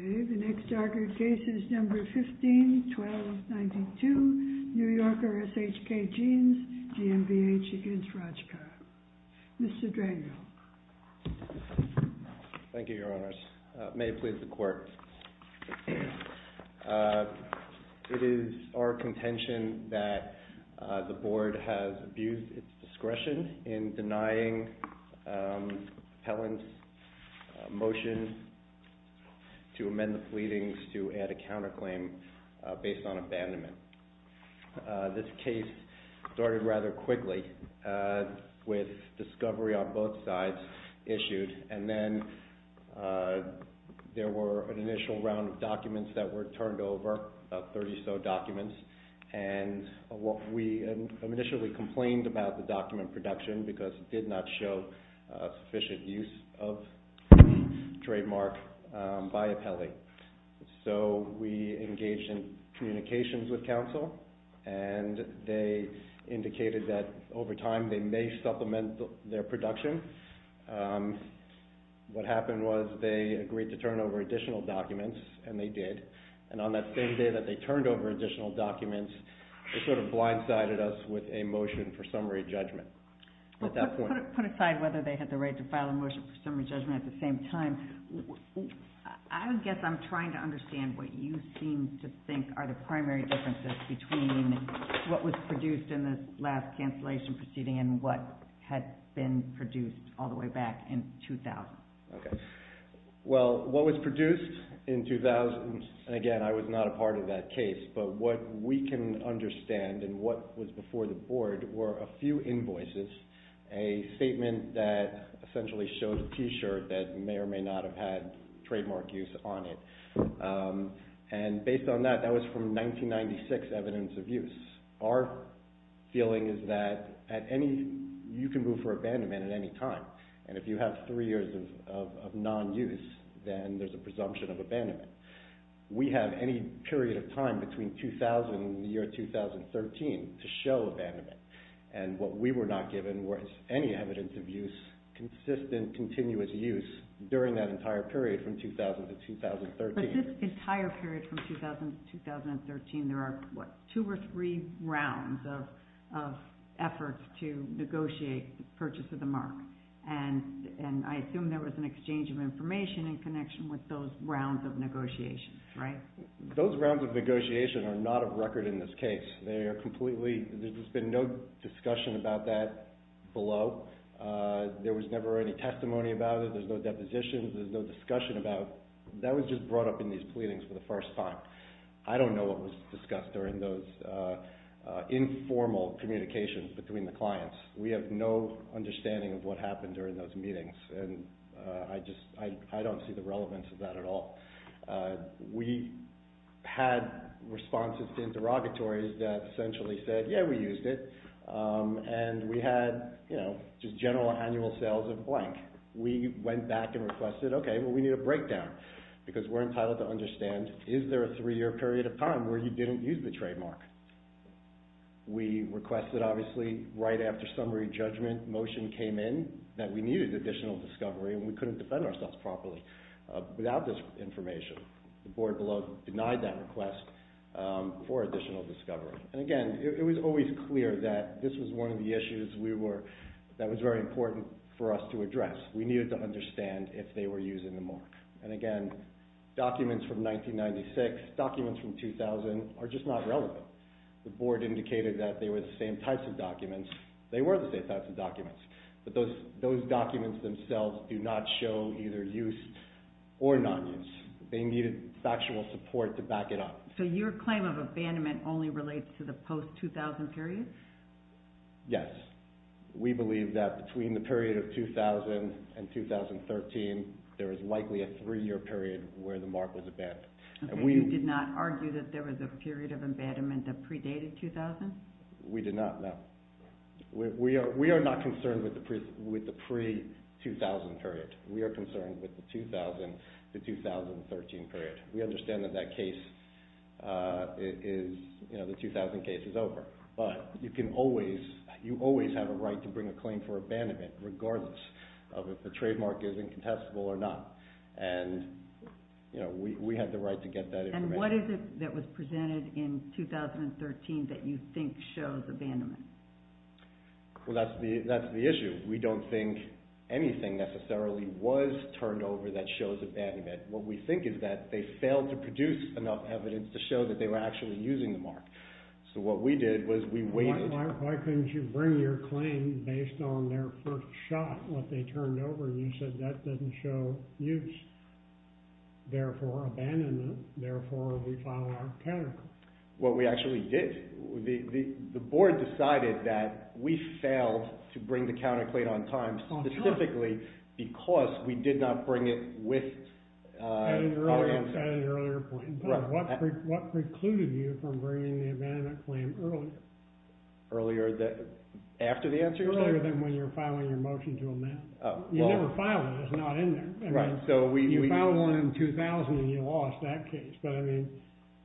Okay, the next argued case is number 15-1292 New Yorker S.H.K. Jeans GmbH v. Rajca, Mr. Dranghill. Thank you, Your Honors. May it please the Court. It is our contention that the Board has abused its discretion in denying Appellant's motion to amend the pleadings to add a counterclaim based on abandonment. This case started rather quickly with discovery on both sides issued, and then there were an initial round of documents that were turned over, about 30 or so documents, and we initially complained about the document production because it did not show sufficient use of trademark by Appelli. So we engaged in communications with counsel, and they indicated that over time they may supplement their production. What happened was they agreed to turn over additional documents, and they did. And on that same day that they turned over additional documents, they sort of blindsided us with a motion for summary judgment at that point. Well, put aside whether they had the right to file a motion for summary judgment at the time, because I'm trying to understand what you seem to think are the primary differences between what was produced in the last cancellation proceeding and what had been produced all the way back in 2000. Okay. Well, what was produced in 2000, and again, I was not a part of that case, but what we can understand and what was before the Board were a few invoices, a statement that essentially showed a T-shirt that may or may not have had trademark use on it. And based on that, that was from 1996 evidence of use. Our feeling is that at any, you can move for abandonment at any time, and if you have three years of non-use, then there's a presumption of abandonment. We have any period of time between 2000 and the year 2013 to show abandonment, and what we were not given was any evidence of use, consistent, continuous use during that entire period from 2000 to 2013. But this entire period from 2000 to 2013, there are, what, two or three rounds of efforts to negotiate the purchase of the mark, and I assume there was an exchange of information in connection with those rounds of negotiations, right? Those rounds of negotiations are not of record in this case. They are completely, there's been no discussion about that below. There was never any testimony about it, there's no depositions, there's no discussion about, that was just brought up in these pleadings for the first time. I don't know what was discussed during those informal communications between the clients. We have no understanding of what happened during those meetings, and I just, I don't see the relevance of that at all. We had responses to interrogatories that essentially said, yeah, we used it, and we had, you know, just general annual sales of blank. We went back and requested, okay, well, we need a breakdown, because we're entitled to understand, is there a three-year period of time where you didn't use the trademark? We requested, obviously, right after summary judgment motion came in, that we needed additional discovery, and we couldn't defend ourselves properly without this information. The board below denied that request for additional discovery. And again, it was always clear that this was one of the issues we were, that was very important for us to address. We needed to understand if they were using the mark. And again, documents from 1996, documents from 2000, are just not relevant. The board indicated that they were the same types of documents, they were the same types of documents. But those documents themselves do not show either use or non-use. They needed factual support to back it up. So your claim of abandonment only relates to the post-2000 period? Yes. We believe that between the period of 2000 and 2013, there was likely a three-year period where the mark was abandoned. You did not argue that there was a period of abandonment that predated 2000? We did not, no. We are not concerned with the pre-2000 period. We are concerned with the 2000 to 2013 period. We understand that that case is, you know, the 2000 case is over. But you can always, you always have a right to bring a claim for abandonment, regardless of if the trademark is incontestable or not, and you know, we had the right to get that information. And what is it that was presented in 2013 that you think shows abandonment? Well, that's the issue. We don't think anything necessarily was turned over that shows abandonment. What we think is that they failed to produce enough evidence to show that they were actually using the mark. So what we did was we waited. Why couldn't you bring your claim based on their first shot, what they turned over, and you said that doesn't show use. Therefore, abandonment, therefore, we file our counterclaim. What we actually did, the board decided that we failed to bring the counterclaim on time specifically because we did not bring it with... At an earlier point. What precluded you from bringing the abandonment claim earlier? Earlier than... After the answer? Earlier than when you're filing your motion to amend. You never file it. It's not in there. Right, so we... You filed one in 2000 and you lost that case, but I mean,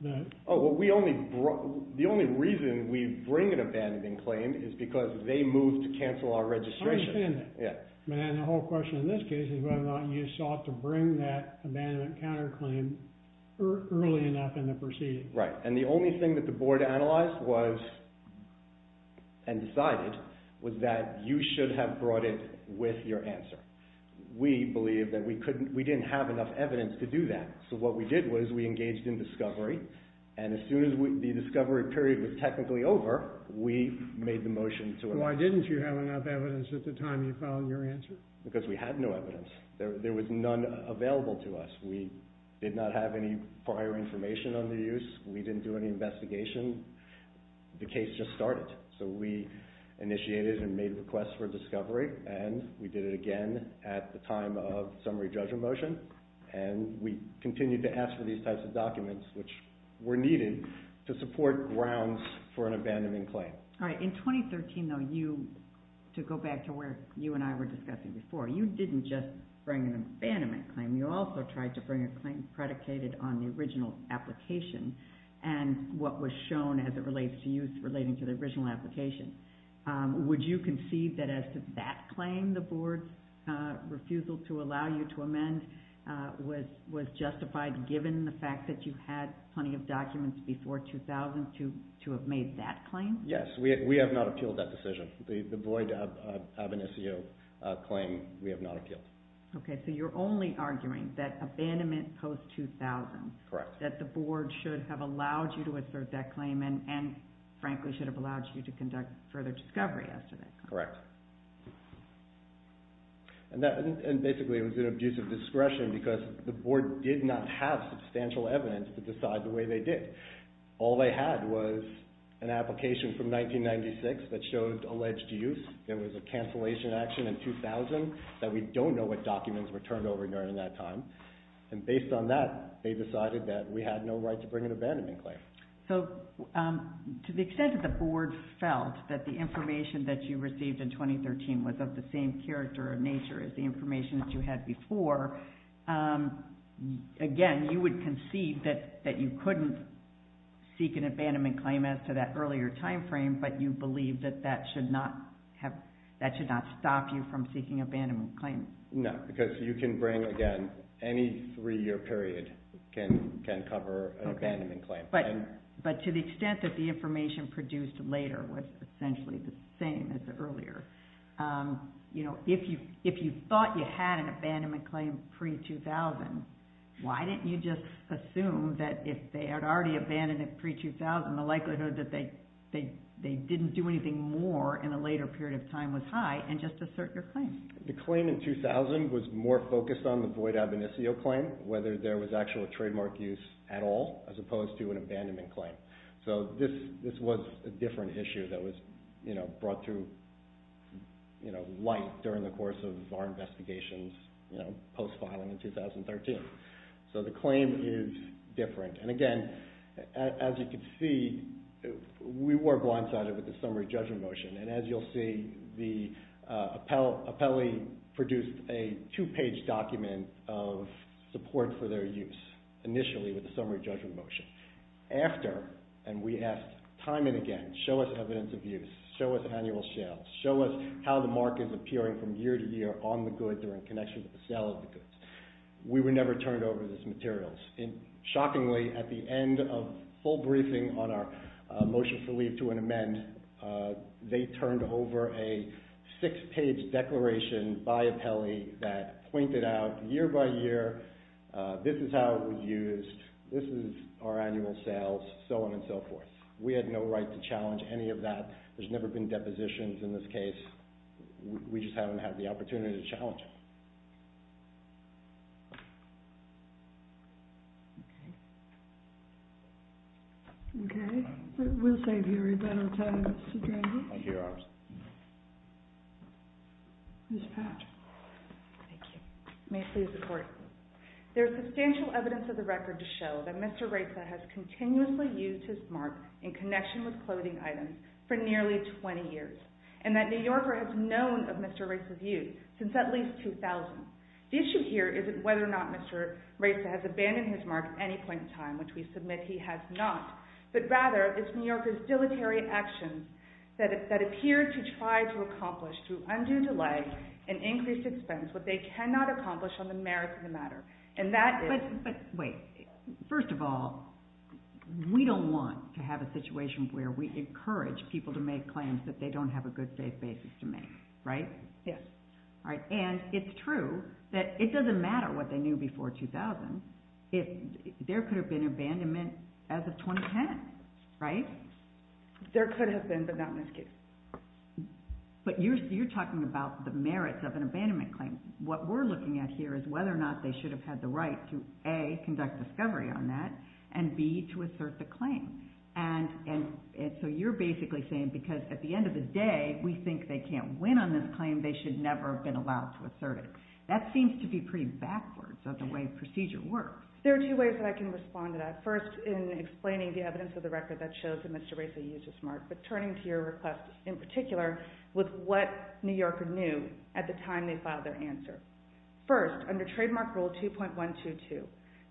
the... Oh, well, we only brought... The only reason we bring an abandonment claim is because they moved to cancel our registration. I understand that. Yeah. And the whole question in this case is whether or not you sought to bring that abandonment counterclaim early enough in the proceedings. Right. And the only thing that the board analyzed was, and decided, was that you should have brought it with your answer. We believed that we couldn't... We didn't have enough evidence to do that. So what we did was we engaged in discovery. And as soon as the discovery period was technically over, we made the motion to amend it. Why didn't you have enough evidence at the time you filed your answer? Because we had no evidence. There was none available to us. We did not have any prior information under use. We didn't do any investigation. The case just started. So we initiated and made requests for discovery, and we did it again at the time of summary judgment motion. And we continued to ask for these types of documents, which were needed to support grounds for an abandonment claim. All right. In 2013, though, you... To go back to where you and I were discussing before, you didn't just bring an abandonment claim. You also tried to bring a claim predicated on the original application and what was shown as it relates to use relating to the original application. Would you concede that as to that claim, the board's refusal to allow you to amend was justified given the fact that you had plenty of documents before 2000 to have made that claim? Yes. We have not appealed that decision. The void of an SEO claim, we have not appealed. Okay. So you're only arguing that abandonment post-2000... Correct. ...that the board should have allowed you to assert that claim and, frankly, should have allowed you to conduct further discovery as to that claim. Correct. And basically, it was an abuse of discretion because the board did not have substantial evidence to decide the way they did. All they had was an application from 1996 that showed alleged use. There was a cancellation action in 2000 that we don't know what documents were turned over during that time. And based on that, they decided that we had no right to bring an abandonment claim. So to the extent that the board felt that the information that you received in 2013 was of the same character or nature as the information that you had before, again, you would concede that you couldn't seek an abandonment claim as to that earlier timeframe, but you believe that that should not have... that should not stop you from seeking abandonment claims? No, because you can bring, again, any three-year period can cover an abandonment claim. But to the extent that the information produced later was essentially the same as earlier, you know, if you thought you had an abandonment claim pre-2000, why didn't you just assume that if they had already abandoned it pre-2000, the likelihood that they didn't do anything more in a later period of time was high and just assert your claim? The claim in 2000 was more focused on the void ab initio claim, whether there was actual trademark use at all, as opposed to an abandonment claim. So this was a different issue that was, you know, brought to light during the course of our investigations, you know, post-filing in 2013. So the claim is different, and again, as you can see, we were blindsided with the summary judgment motion. And as you'll see, the appellee produced a two-page document of support for their use initially with the summary judgment motion. After, and we asked time and again, show us evidence of use, show us annual sales, show us how the mark is appearing from year to year on the good, they're in connection with the sale of the goods. We were never turned over this material. And shockingly, at the end of full briefing on our motion for leave to an amend, they turned over a six-page declaration by appellee that pointed out year by year, this is how it was used, this is our annual sales, so on and so forth. We had no right to challenge any of that. There's never been depositions in this case. We just haven't had the opportunity to challenge it. Okay. We'll save you a little time, Mr. Drenher. Thank you, Your Honor. Ms. Patch. Thank you. May it please the Court. There is substantial evidence of the record to show that Mr. Reza has continuously used his mark in connection with clothing items for nearly 20 years, and that New Yorker has known of Mr. Reza's use since at least 2000. The issue here isn't whether or not Mr. Reza has abandoned his mark at any point in time, which we submit he has not, but rather it's New Yorkers' dilatory actions that appear to try to accomplish, through undue delay and increased expense, what they cannot accomplish on the merits of the matter, and that is... But wait. First of all, we don't want to have a situation where we encourage people to make claims that they don't have a good safe basis to make, right? Yes. All right. And it's true that it doesn't matter what they knew before 2000. There could have been abandonment as of 2010, right? There could have been, but not in this case. But you're talking about the merits of an abandonment claim. What we're looking at here is whether or not they should have had the right to, A, conduct discovery on that, and B, to assert the claim. And so you're basically saying, because at the end of the day, we think they can't win on this claim, they should never have been allowed to assert it. That seems to be pretty backwards of the way procedure works. There are two ways that I can respond to that. First, in explaining the evidence of the record that shows that Mr. Reza used his mark, but turning to your request in particular with what New Yorker knew at the time they filed their answer. First, under Trademark Rule 2.122,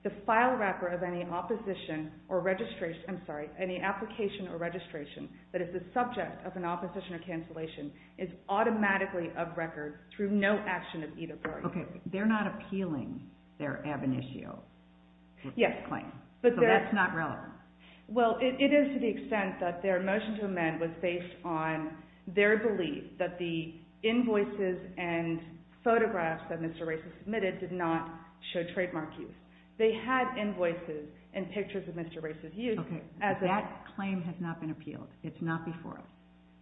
the file wrapper of any opposition or registration that is the subject of an opposition or cancellation is automatically of record through no action of either party. Okay. They're not appealing their ab initio claim. Yes. So that's not relevant. Well, it is to the extent that their motion to amend was based on their belief that the invoices and photographs that Mr. Reza submitted did not show trademark use. They had invoices and pictures of Mr. Reza's use. Okay. That claim has not been appealed. It's not before us.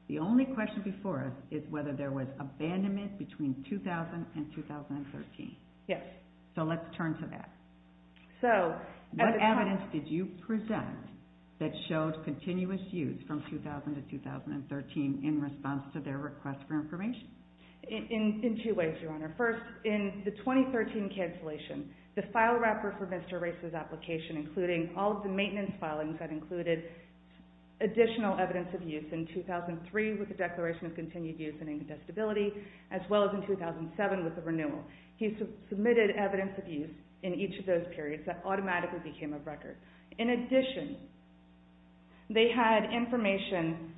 The only question before us is whether there was abandonment between 2000 and 2013. Yes. So let's turn to that. What evidence did you present that showed continuous use from 2000 to 2013 in response to their request for information? In two ways, Your Honor. First, in the 2013 cancellation, the file wrapper for Mr. Reza's application, including all of the maintenance filings that included additional evidence of use in 2003 with the Declaration of Continued Use and Incongestibility, as well as in 2007 with the renewal. He submitted evidence of use in each of those periods that automatically became of record. In addition, they had information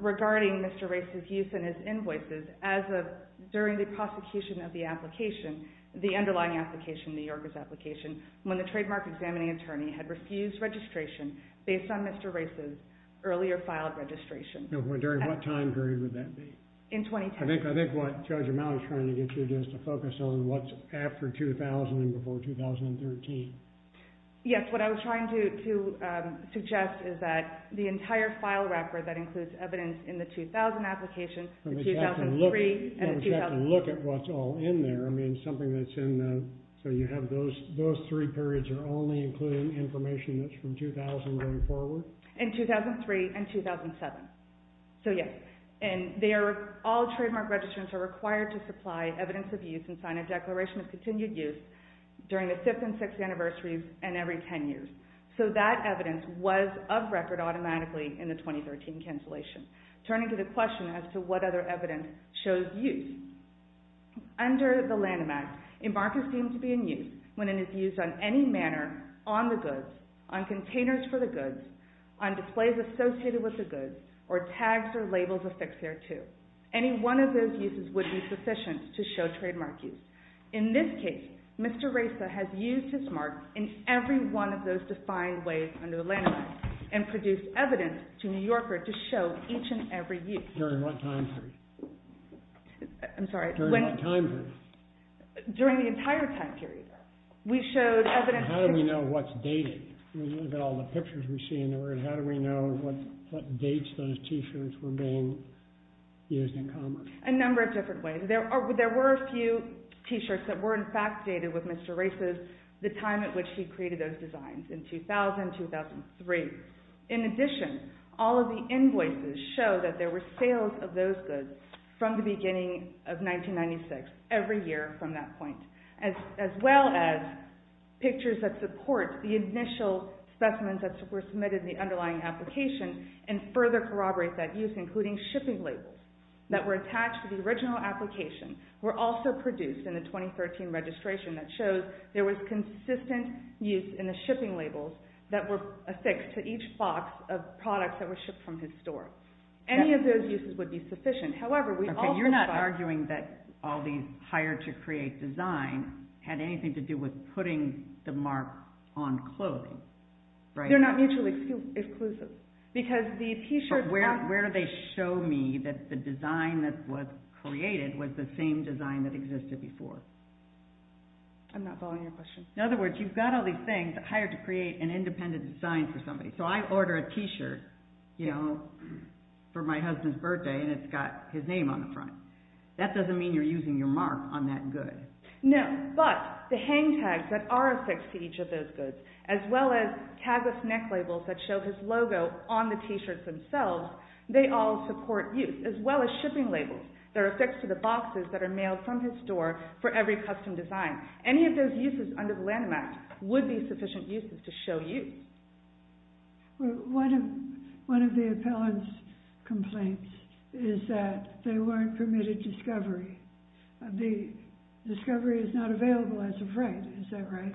regarding Mr. Reza's use and his invoices as of during the prosecution of the application, the underlying application, New Yorker's application, when the trademark examining attorney had refused registration based on Mr. Reza's earlier filed registration. During what time period would that be? In 2010. I think what Judge O'Malley is trying to get you to do is to focus on what's after 2000 and before 2013. Yes. What I was trying to suggest is that the entire file wrapper that includes evidence in the I mean, something that's in the... So you have those three periods are only including information that's from 2000 going forward? In 2003 and 2007. So, yes. And all trademark registrants are required to supply evidence of use and sign a Declaration of Continued Use during the 5th and 6th anniversaries and every 10 years. So that evidence was of record automatically in the 2013 cancellation. Turning to the question as to what other evidence shows use. Under the Lanham Act, a mark is deemed to be in use when it is used on any manner on the goods, on containers for the goods, on displays associated with the goods, or tags or labels affixed thereto. Any one of those uses would be sufficient to show trademark use. In this case, Mr. Reza has used his mark in every one of those defined ways under the During what time period? I'm sorry. During what time period? During the entire time period. We showed evidence... How do we know what's dated? We look at all the pictures we see and how do we know what dates those T-shirts were being used in commerce? A number of different ways. There were a few T-shirts that were in fact dated with Mr. Reza's, the time at which he created those designs, in 2000, 2003. In addition, all of the invoices show that there were sales of those goods from the beginning of 1996, every year from that point, as well as pictures that support the initial specimens that were submitted in the underlying application and further corroborate that use, including shipping labels that were attached to the original application were also produced in the 2013 registration that shows there was consistent use in the shipping labels that were affixed to each box of products that were shipped from his store. Any of those uses would be sufficient. You're not arguing that all these hired to create designs had anything to do with putting the mark on clothing, right? They're not mutually exclusive. Where do they show me that the design that was created was the same design that existed before? I'm not following your question. In other words, you've got all these things hired to create an independent design for somebody. I order a T-shirt for my husband's birthday and it's got his name on the front. That doesn't mean you're using your mark on that good. No, but the hang tags that are affixed to each of those goods, as well as tag of neck labels that show his logo on the T-shirts themselves, they all support use, as well as shipping labels that are affixed to the boxes that are mailed from his store for every custom design. Now, any of those uses under the Lanham Act would be sufficient uses to show you. One of the appellant's complaints is that they weren't permitted discovery. The discovery is not available as of right. Is that right?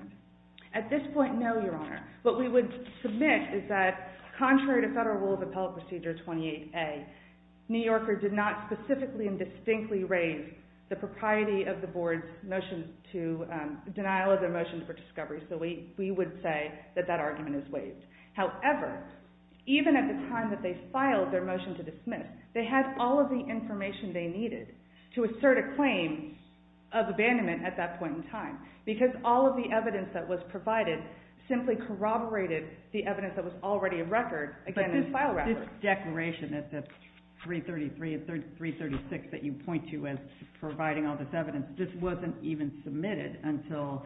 At this point, no, Your Honor. What we would submit is that contrary to Federal Rule of Appellate Procedure 28A, New Yorker did not specifically and distinctly raise the propriety of the board's denial of their motion for discovery. So we would say that that argument is waived. However, even at the time that they filed their motion to dismiss, they had all of the information they needed to assert a claim of abandonment at that point in time, because all of the evidence that was provided simply corroborated the evidence that was already in file record. But this declaration at 333 and 336 that you point to as providing all this evidence, this wasn't even submitted until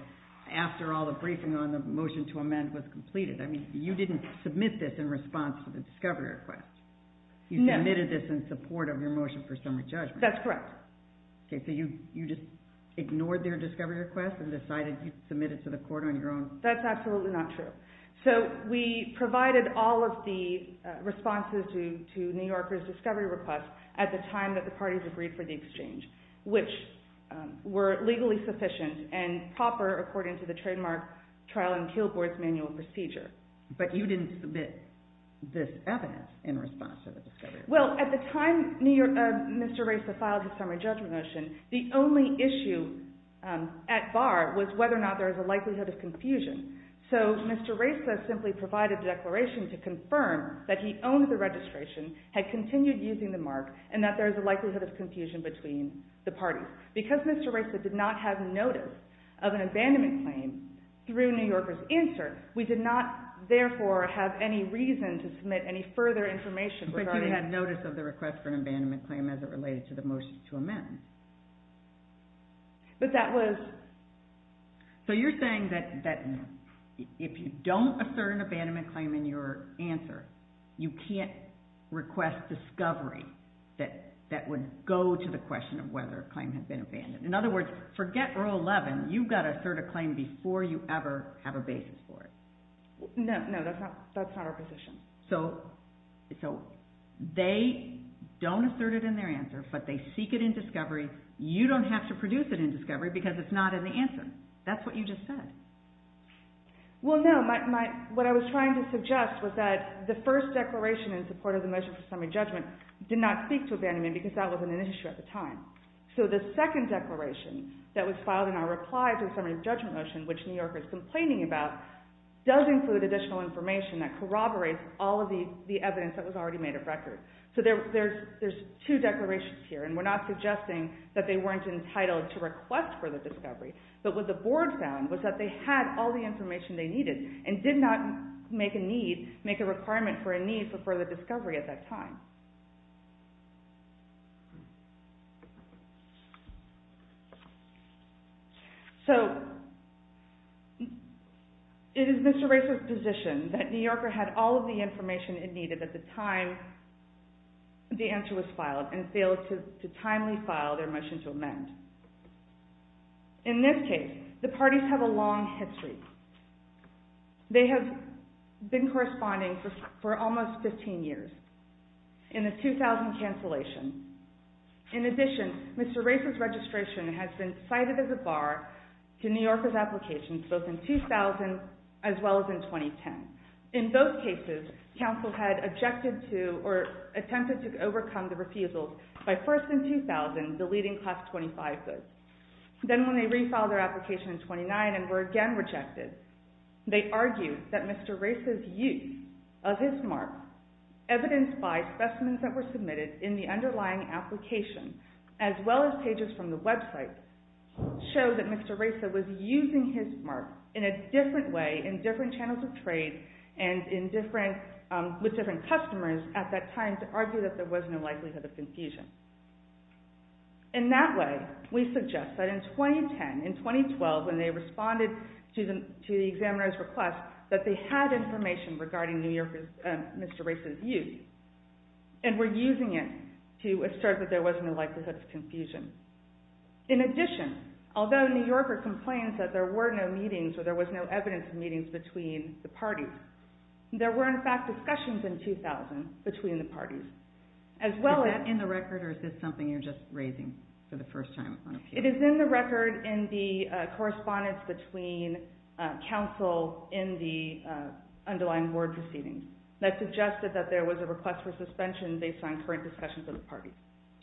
after all the briefing on the motion to amend was completed. I mean, you didn't submit this in response to the discovery request. No. You submitted this in support of your motion for summary judgment. That's correct. Okay, so you just ignored their discovery request and decided to submit it to the court on your own? That's absolutely not true. So we provided all of the responses to New Yorker's discovery request at the time that the parties agreed for the exchange, which were legally sufficient and proper according to the trademark trial and kill board's manual procedure. But you didn't submit this evidence in response to the discovery request. Well, at the time Mr. Racer filed the summary judgment motion, the only issue at bar was whether or not there was a likelihood of confusion. So Mr. Racer simply provided the declaration to confirm that he owned the registration, had continued using the mark, and that there was a likelihood of confusion between the parties. Because Mr. Racer did not have notice of an abandonment claim through New Yorker's insert, we did not therefore have any reason to submit any further information regarding that. But he had notice of the request for an abandonment claim as it related to the motion to amend. But that was... So you're saying that if you don't assert an abandonment claim in your answer, you can't request discovery that would go to the question of whether a claim had been abandoned. In other words, forget Rule 11, you've got to assert a claim before you ever have a basis for it. No, that's not our position. So they don't assert it in their answer, but they seek it in discovery. You don't have to produce it in discovery because it's not in the answer. That's what you just said. Well, no. What I was trying to suggest was that the first declaration in support of the motion for summary judgment did not speak to abandonment because that wasn't an issue at the time. So the second declaration that was filed in our reply to the summary judgment motion, which New Yorker is complaining about, does include additional information that corroborates all of the evidence that was already made of record. So there's two declarations here, and we're not suggesting that they weren't entitled to request further discovery, but what the board found was that they had all the information they needed and did not make a requirement for a need for further discovery at that time. So it is Mr. Racer's position that New Yorker had all of the information it needed at the time the answer was filed and failed to timely file their motion to amend. In this case, the parties have a long history. They have been corresponding for almost 15 years in the 2000 cancellation. In addition, Mr. Racer's registration has been cited as a bar to New Yorker's applications both in 2000 as well as in 2010. In both cases, counsel had objected to or attempted to overcome the refusals by first in 2000 deleting class 25 books. Then when they refiled their application in 2009 and were again rejected, they argued that Mr. Racer's use of his mark evidenced by specimens that were submitted in the underlying application as well as pages from the website show that Mr. Racer was using his mark in a different way in different channels of trade and with different customers at that time to argue that there was no likelihood of confusion. In that way, we suggest that in 2010, in 2012, when they responded to the examiner's request that they had information regarding Mr. Racer's use and were using it to assert that there was no likelihood of confusion. In addition, although New Yorker complains that there were no meetings or there was no evidence of meetings between the parties, there were in fact discussions in 2000 between the parties. Is that in the record or is this something you're just raising for the first time? It is in the record in the correspondence between counsel in the underlying board proceedings that suggested that there was a request for suspension based on current discussions of the parties.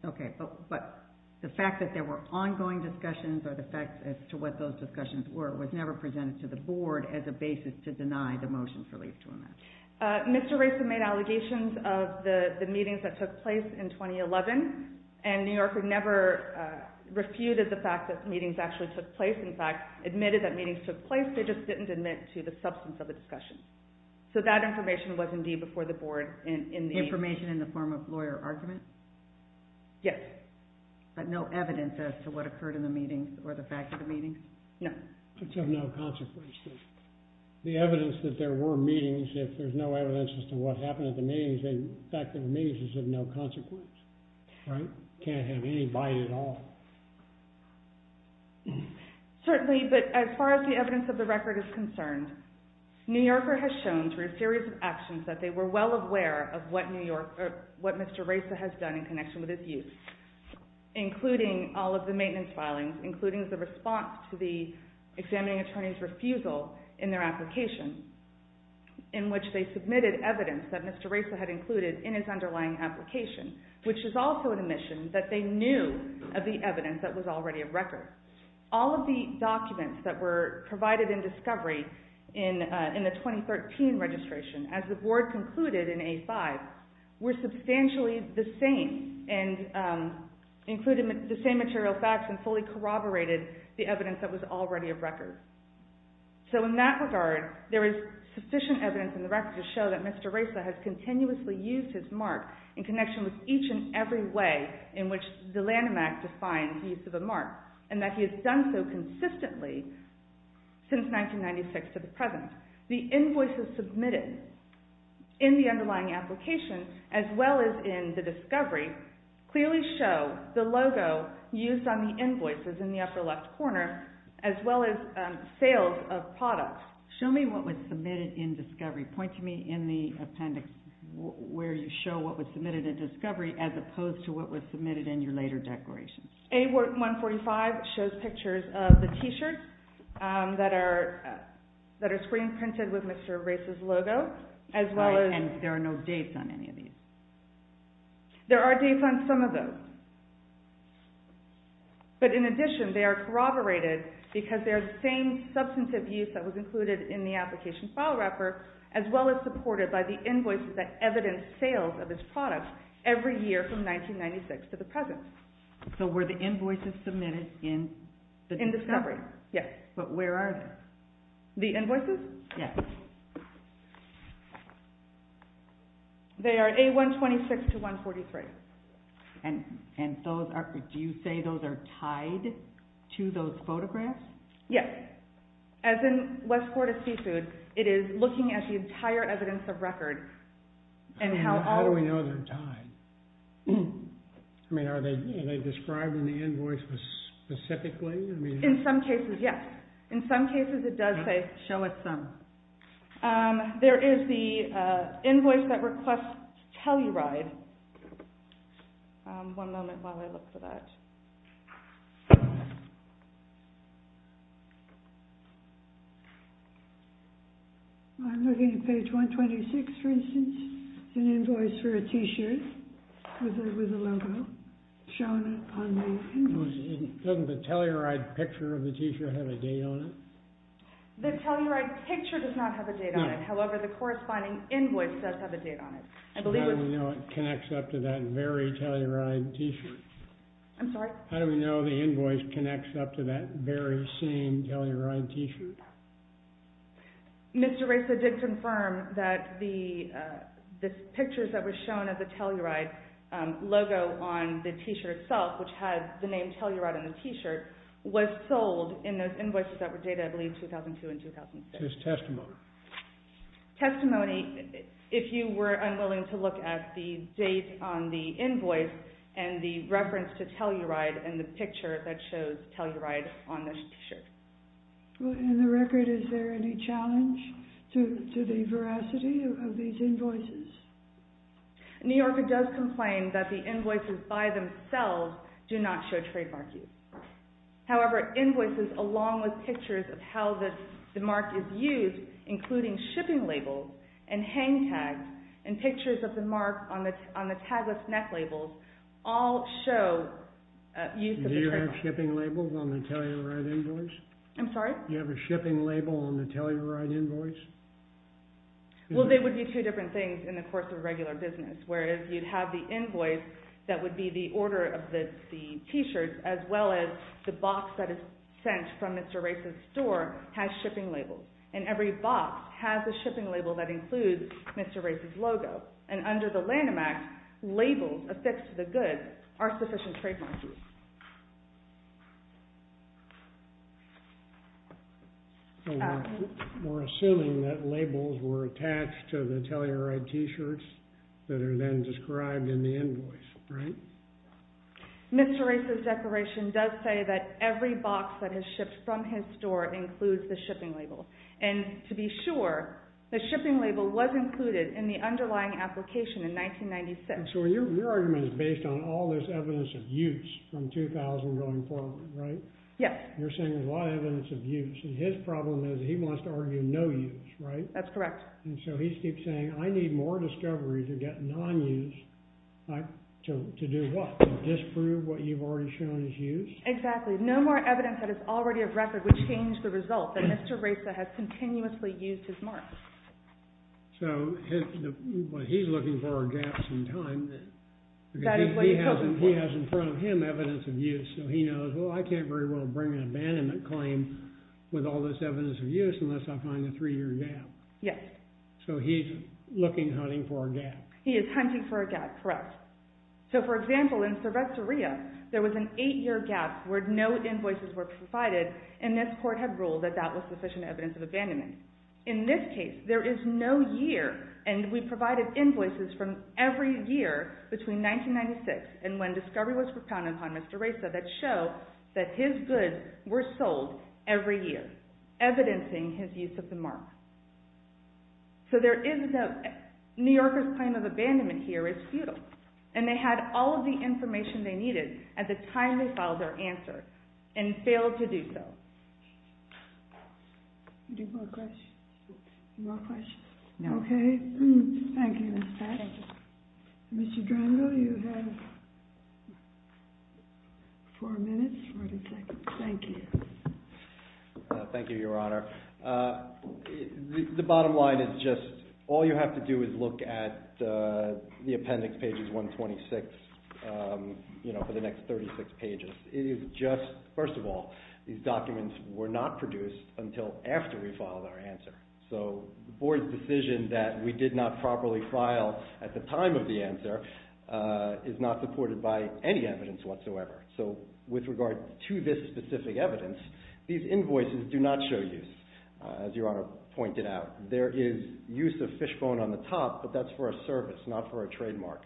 Okay, but the fact that there were ongoing discussions or the facts as to what those discussions were was never presented to the board as a basis to deny the motion for leave to amend. Mr. Racer made allegations of the meetings that took place in 2011 and New Yorker never refuted the fact that meetings actually took place. In fact, admitted that meetings took place, they just didn't admit to the substance of the discussion. So that information was indeed before the board. Information in the form of lawyer argument? Yes. But no evidence as to what occurred in the meetings or the fact of the meetings? No. It's of no consequence. The evidence that there were meetings, if there's no evidence as to what happened at the meetings, then the fact that there were meetings is of no consequence. Right? Can't have any bite at all. Certainly, but as far as the evidence of the record is concerned, New Yorker has shown through a series of actions that they were well aware of what Mr. Racer has done in connection with his youth, including all of the maintenance filings, including the response to the examining attorney's refusal in their application in which they submitted evidence that Mr. Racer had included in his underlying application, which is also an admission that they knew of the evidence that was already a record. All of the documents that were provided in discovery in the 2013 registration, as the board concluded in A5, were substantially the same and included the same material facts and fully corroborated the evidence that was already a record. So in that regard, there is sufficient evidence in the record to show that Mr. Racer has continuously used his mark in connection with each and every way in which the Lanham Act defines the use of a mark and that he has done so consistently since 1996 to the present. The invoices submitted in the underlying application as well as in the discovery clearly show the logo used on the invoices in the upper left corner as well as sales of products. Show me what was submitted in discovery. Point to me in the appendix where you show what was submitted in discovery as opposed to what was submitted in your later declaration. A145 shows pictures of the t-shirts that are screen printed with Mr. Racer's logo. And there are no dates on any of these? There are dates on some of those. But in addition, they are corroborated because they are the same substantive use that was included in the application file wrapper as well as supported by the invoices that evidence sales of his products every year from 1996 to the present. So were the invoices submitted in discovery? Yes. But where are they? The invoices? Yes. They are A126 to A143. And do you say those are tied to those photographs? Yes. As in Westport of Seafood, it is looking at the entire evidence of record. How do we know they're tied? I mean, are they described in the invoice specifically? In some cases, yes. In some cases it does say, show us some. There is the invoice that requests Telluride. One moment while I look for that. I'm looking at page 126, for instance, an invoice for a T-shirt with a logo shown on the invoice. Doesn't the Telluride picture of the T-shirt have a date on it? The Telluride picture does not have a date on it. However, the corresponding invoice does have a date on it. How do we know it connects up to that very Telluride T-shirt? I'm sorry? How do we know the invoice connects up to that very same Telluride T-shirt? Mr. Reza did confirm that the pictures that were shown of the Telluride logo on the T-shirt itself, which had the name Telluride on the T-shirt, was sold in those invoices that were dated, I believe, 2002 and 2006. Just testimony? Testimony, if you were unwilling to look at the date on the invoice and the reference to Telluride and the picture that shows Telluride on the T-shirt. In the record, is there any challenge to the veracity of these invoices? New Yorker does complain that the invoices by themselves do not show trademark use. However, invoices along with pictures of how the mark is used, including shipping labels and hang tags, and pictures of the mark on the tag with neck labels, all show use of the trademark. Do you have shipping labels on the Telluride invoice? I'm sorry? Do you have a shipping label on the Telluride invoice? Well, they would be two different things in the course of regular business. Whereas you'd have the invoice that would be the order of the T-shirts, as well as the box that is sent from Mr. Race's store has shipping labels. And every box has a shipping label that includes Mr. Race's logo. And under the Lanham Act, labels affixed to the goods are sufficient trademark use. We're assuming that labels were attached to the Telluride T-shirts that are then described in the invoice, right? Mr. Race's declaration does say that every box that is shipped from his store includes the shipping label. And to be sure, the shipping label was included in the underlying application in 1996. So your argument is based on all this evidence of use from 2000 going forward, right? Yes. You're saying there's a lot of evidence of use. And his problem is he wants to argue no use, right? That's correct. And so he keeps saying, I need more discovery to get non-use to do what? Disprove what you've already shown is use? Exactly. No more evidence that is already of record would change the result that Mr. Race has continuously used his mark. So what he's looking for are gaps in time. That is what he's hoping for. Because he has in front of him evidence of use. So he knows, well, I can't very well bring an abandonment claim with all this evidence of use unless I find a three-year gap. Yes. So he's looking, hunting for a gap. He is hunting for a gap. Correct. So, for example, in Sorvesteria, there was an eight-year gap where no invoices were provided. And this court had ruled that that was sufficient evidence of abandonment. In this case, there is no year. And we provided invoices from every year between 1996 and when discovery was propounded on Mr. Race that show that his goods were sold every year, evidencing his use of the mark. So there is no New Yorker's claim of abandonment here is futile. And they had all of the information they needed at the time they filed their answer and failed to do so. Any more questions? No. Okay. Thank you, Ms. Patch. Thank you. Mr. Drango, you have four minutes, 40 seconds. Thank you. Thank you, Your Honor. The bottom line is just all you have to do is look at the appendix, pages 126, for the next 36 pages. First of all, these documents were not produced until after we filed our answer. So the board's decision that we did not properly file at the time of the answer is not supported by any evidence whatsoever. So with regard to this specific evidence, these invoices do not show use, as Your Honor pointed out. There is use of fishbone on the top, but that's for a service, not for a trademark.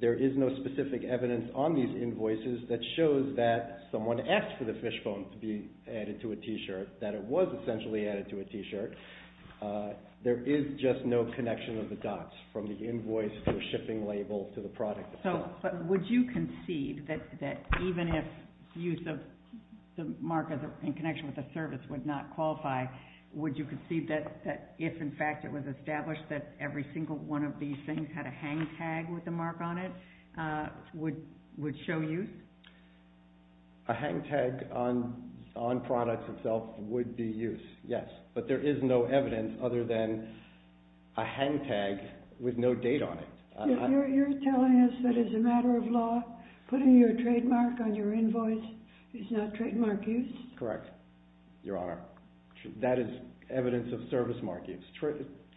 There is no specific evidence on these invoices that shows that someone asked for the fishbone to be added to a T-shirt, that it was essentially added to a T-shirt. There is just no connection of the dots from the invoice to a shipping label to the product itself. So would you concede that even if use of the mark in connection with a service would not qualify, would you concede that if, in fact, it was established that every single one of these things had a hang tag with a mark on it would show use? A hang tag on products itself would be use, yes. But there is no evidence other than a hang tag with no date on it. You're telling us that as a matter of law, putting your trademark on your invoice is not trademark use? Correct, Your Honor. That is evidence of service mark use.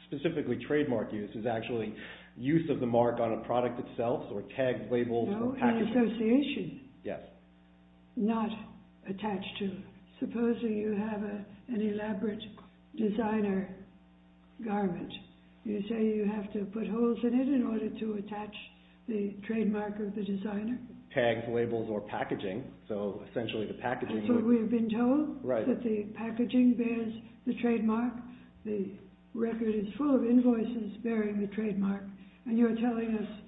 Specifically, trademark use is actually use of the mark on a product itself or tagged labels or packaging. No, in association. Yes. Not attached to. Supposing you have an elaborate designer garment. You say you have to put holes in it in order to attach the trademark of the designer? Tags, labels, or packaging. We've been told that the packaging bears the trademark. The record is full of invoices bearing the trademark. And you're telling us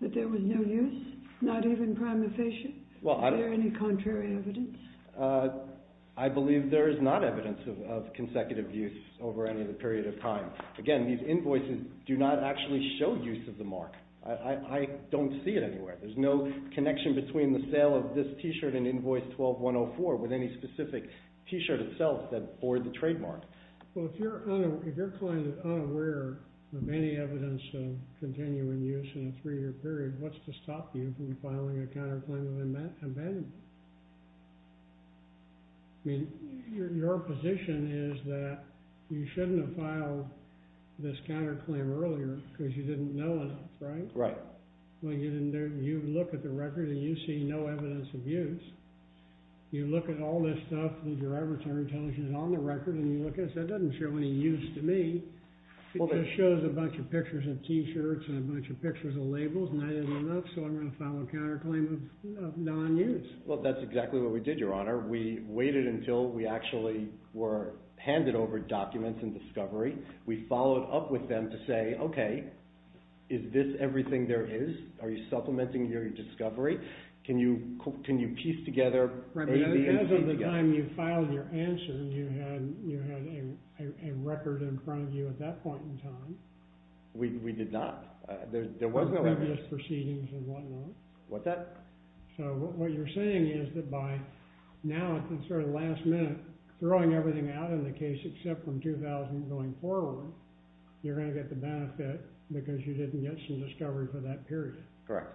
that there was no use? Not even prima facie? Is there any contrary evidence? I believe there is not evidence of consecutive use over any period of time. Again, these invoices do not actually show use of the mark. I don't see it anywhere. There's no connection between the sale of this t-shirt and invoice 12-104 with any specific t-shirt itself that bore the trademark. Well, if your client is unaware of any evidence of continuing use in a three-year period, what's to stop you from filing a counterclaim with an abandonment? I mean, your position is that you shouldn't have filed this counterclaim earlier because you didn't know it, right? Right. Well, you look at the record and you see no evidence of use. You look at all this stuff that your arbitrator tells you is on the record, and you look at it and say, that doesn't show any use to me. It just shows a bunch of pictures of t-shirts and a bunch of pictures of labels, and that isn't enough, so I'm going to file a counterclaim of non-use. Well, that's exactly what we did, Your Honor. We waited until we actually were handed over documents and discovery. We followed up with them to say, okay, is this everything there is? Are you supplementing your discovery? Can you piece together? As of the time you filed your answer, you had a record in front of you at that point in time. We did not. There was no record. Previous proceedings and whatnot. What's that? So what you're saying is that by now, at the sort of last minute, throwing everything out in the case except from 2000 going forward, you're going to get the benefit because you didn't get some discovery for that period. Correct.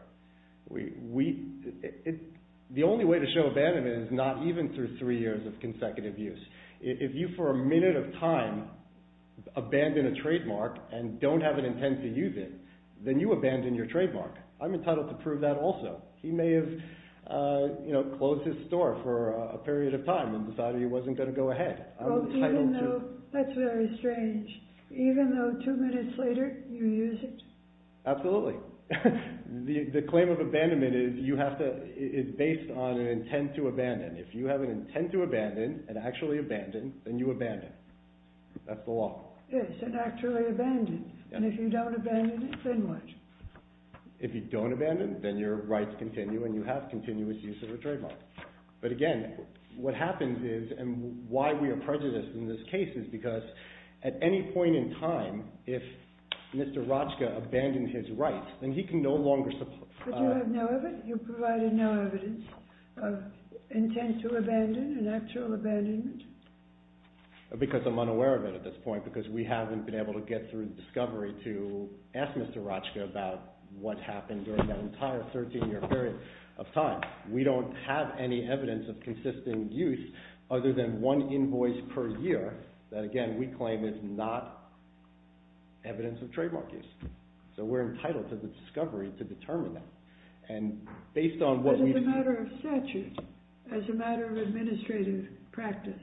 The only way to show abandonment is not even through three years of consecutive use. If you, for a minute of time, abandon a trademark and don't have an intent to use it, then you abandon your trademark. I'm entitled to prove that also. He may have closed his store for a period of time and decided he wasn't going to go ahead. That's very strange. Even though two minutes later, you use it? Absolutely. The claim of abandonment is based on an intent to abandon. If you have an intent to abandon and actually abandon, then you abandon. That's the law. Yes, and actually abandon. And if you don't abandon, then what? If you don't abandon, then your rights continue and you have continuous use of a trademark. But again, what happens is, and why we are prejudiced in this case is because at any point in time, if Mr. Rochka abandoned his rights, then he can no longer support. But you have no evidence? You provided no evidence of intent to abandon and actual abandonment? Because I'm unaware of it at this point because we haven't been able to get through the discovery to ask Mr. Rochka about what happened during that entire 13-year period of time. We don't have any evidence of consistent use other than one invoice per year that, again, we claim is not evidence of trademark use. So we're entitled to the discovery to determine that. As a matter of statute, as a matter of administrative practice,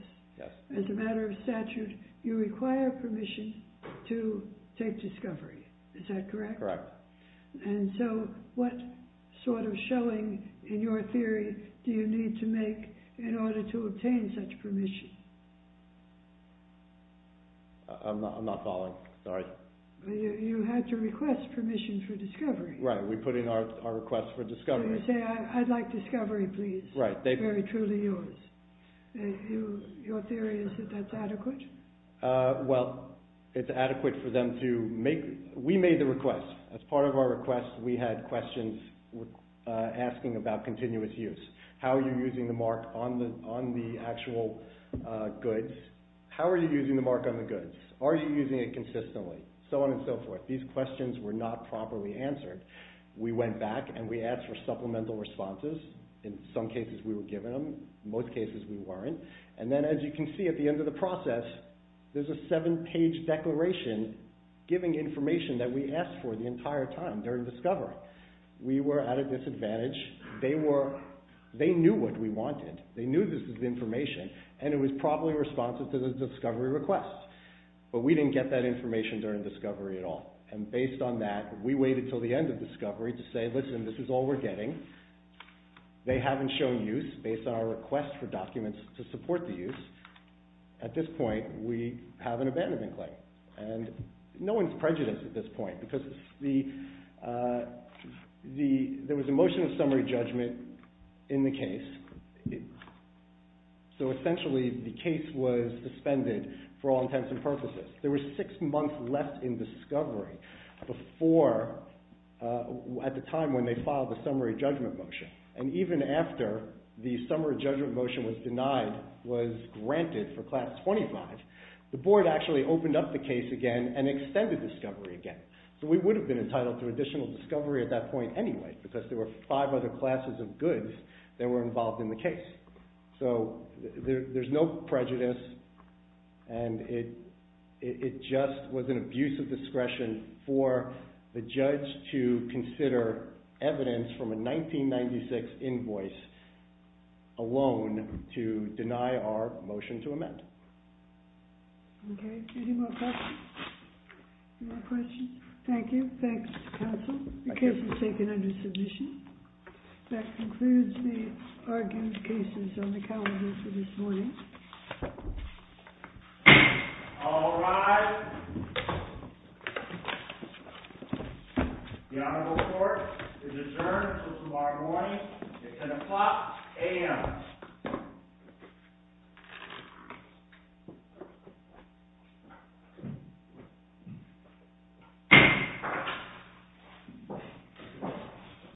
as a matter of statute, you require permission to take discovery. Is that correct? Correct. And so what sort of showing in your theory do you need to make in order to obtain such permission? I'm not following. Sorry. You had to request permission for discovery. Right. We put in our request for discovery. So you say, I'd like discovery, please. Right. Very truly yours. Your theory is that that's adequate? Well, it's adequate for them to make – we made the request. As part of our request, we had questions asking about continuous use. How are you using the mark on the actual goods? How are you using the mark on the goods? Are you using it consistently? So on and so forth. These questions were not properly answered. We went back and we asked for supplemental responses. In some cases, we were given them. In most cases, we weren't. And then, as you can see, at the end of the process, there's a seven-page declaration giving information that we asked for the entire time during discovery. We were at a disadvantage. They knew what we wanted. They knew this was information, and it was probably responsive to the discovery request. But we didn't get that information during discovery at all. And based on that, we waited until the end of discovery to say, listen, this is all we're getting. They haven't shown use based on our request for documents to support the use. At this point, we have an abandonment claim. And no one's prejudiced at this point because there was a motion of summary judgment in the case. So essentially, the case was suspended for all intents and purposes. There were six months left in discovery before, at the time when they filed the summary judgment motion. And even after the summary judgment motion was denied, was granted for class 25, the board actually opened up the case again and extended discovery again. So we would have been entitled to additional discovery at that point anyway because there were five other classes of goods that were involved in the case. So there's no prejudice, and it just was an abuse of discretion for the judge to consider evidence from a 1996 invoice alone to deny our motion to amend. OK. Any more questions? Any more questions? Thank you. Thanks, counsel. The case is taken under submission. That concludes the argument cases on the calendar for this morning. All rise. The honorable court is adjourned until tomorrow morning at 10 o'clock AM. Thank you.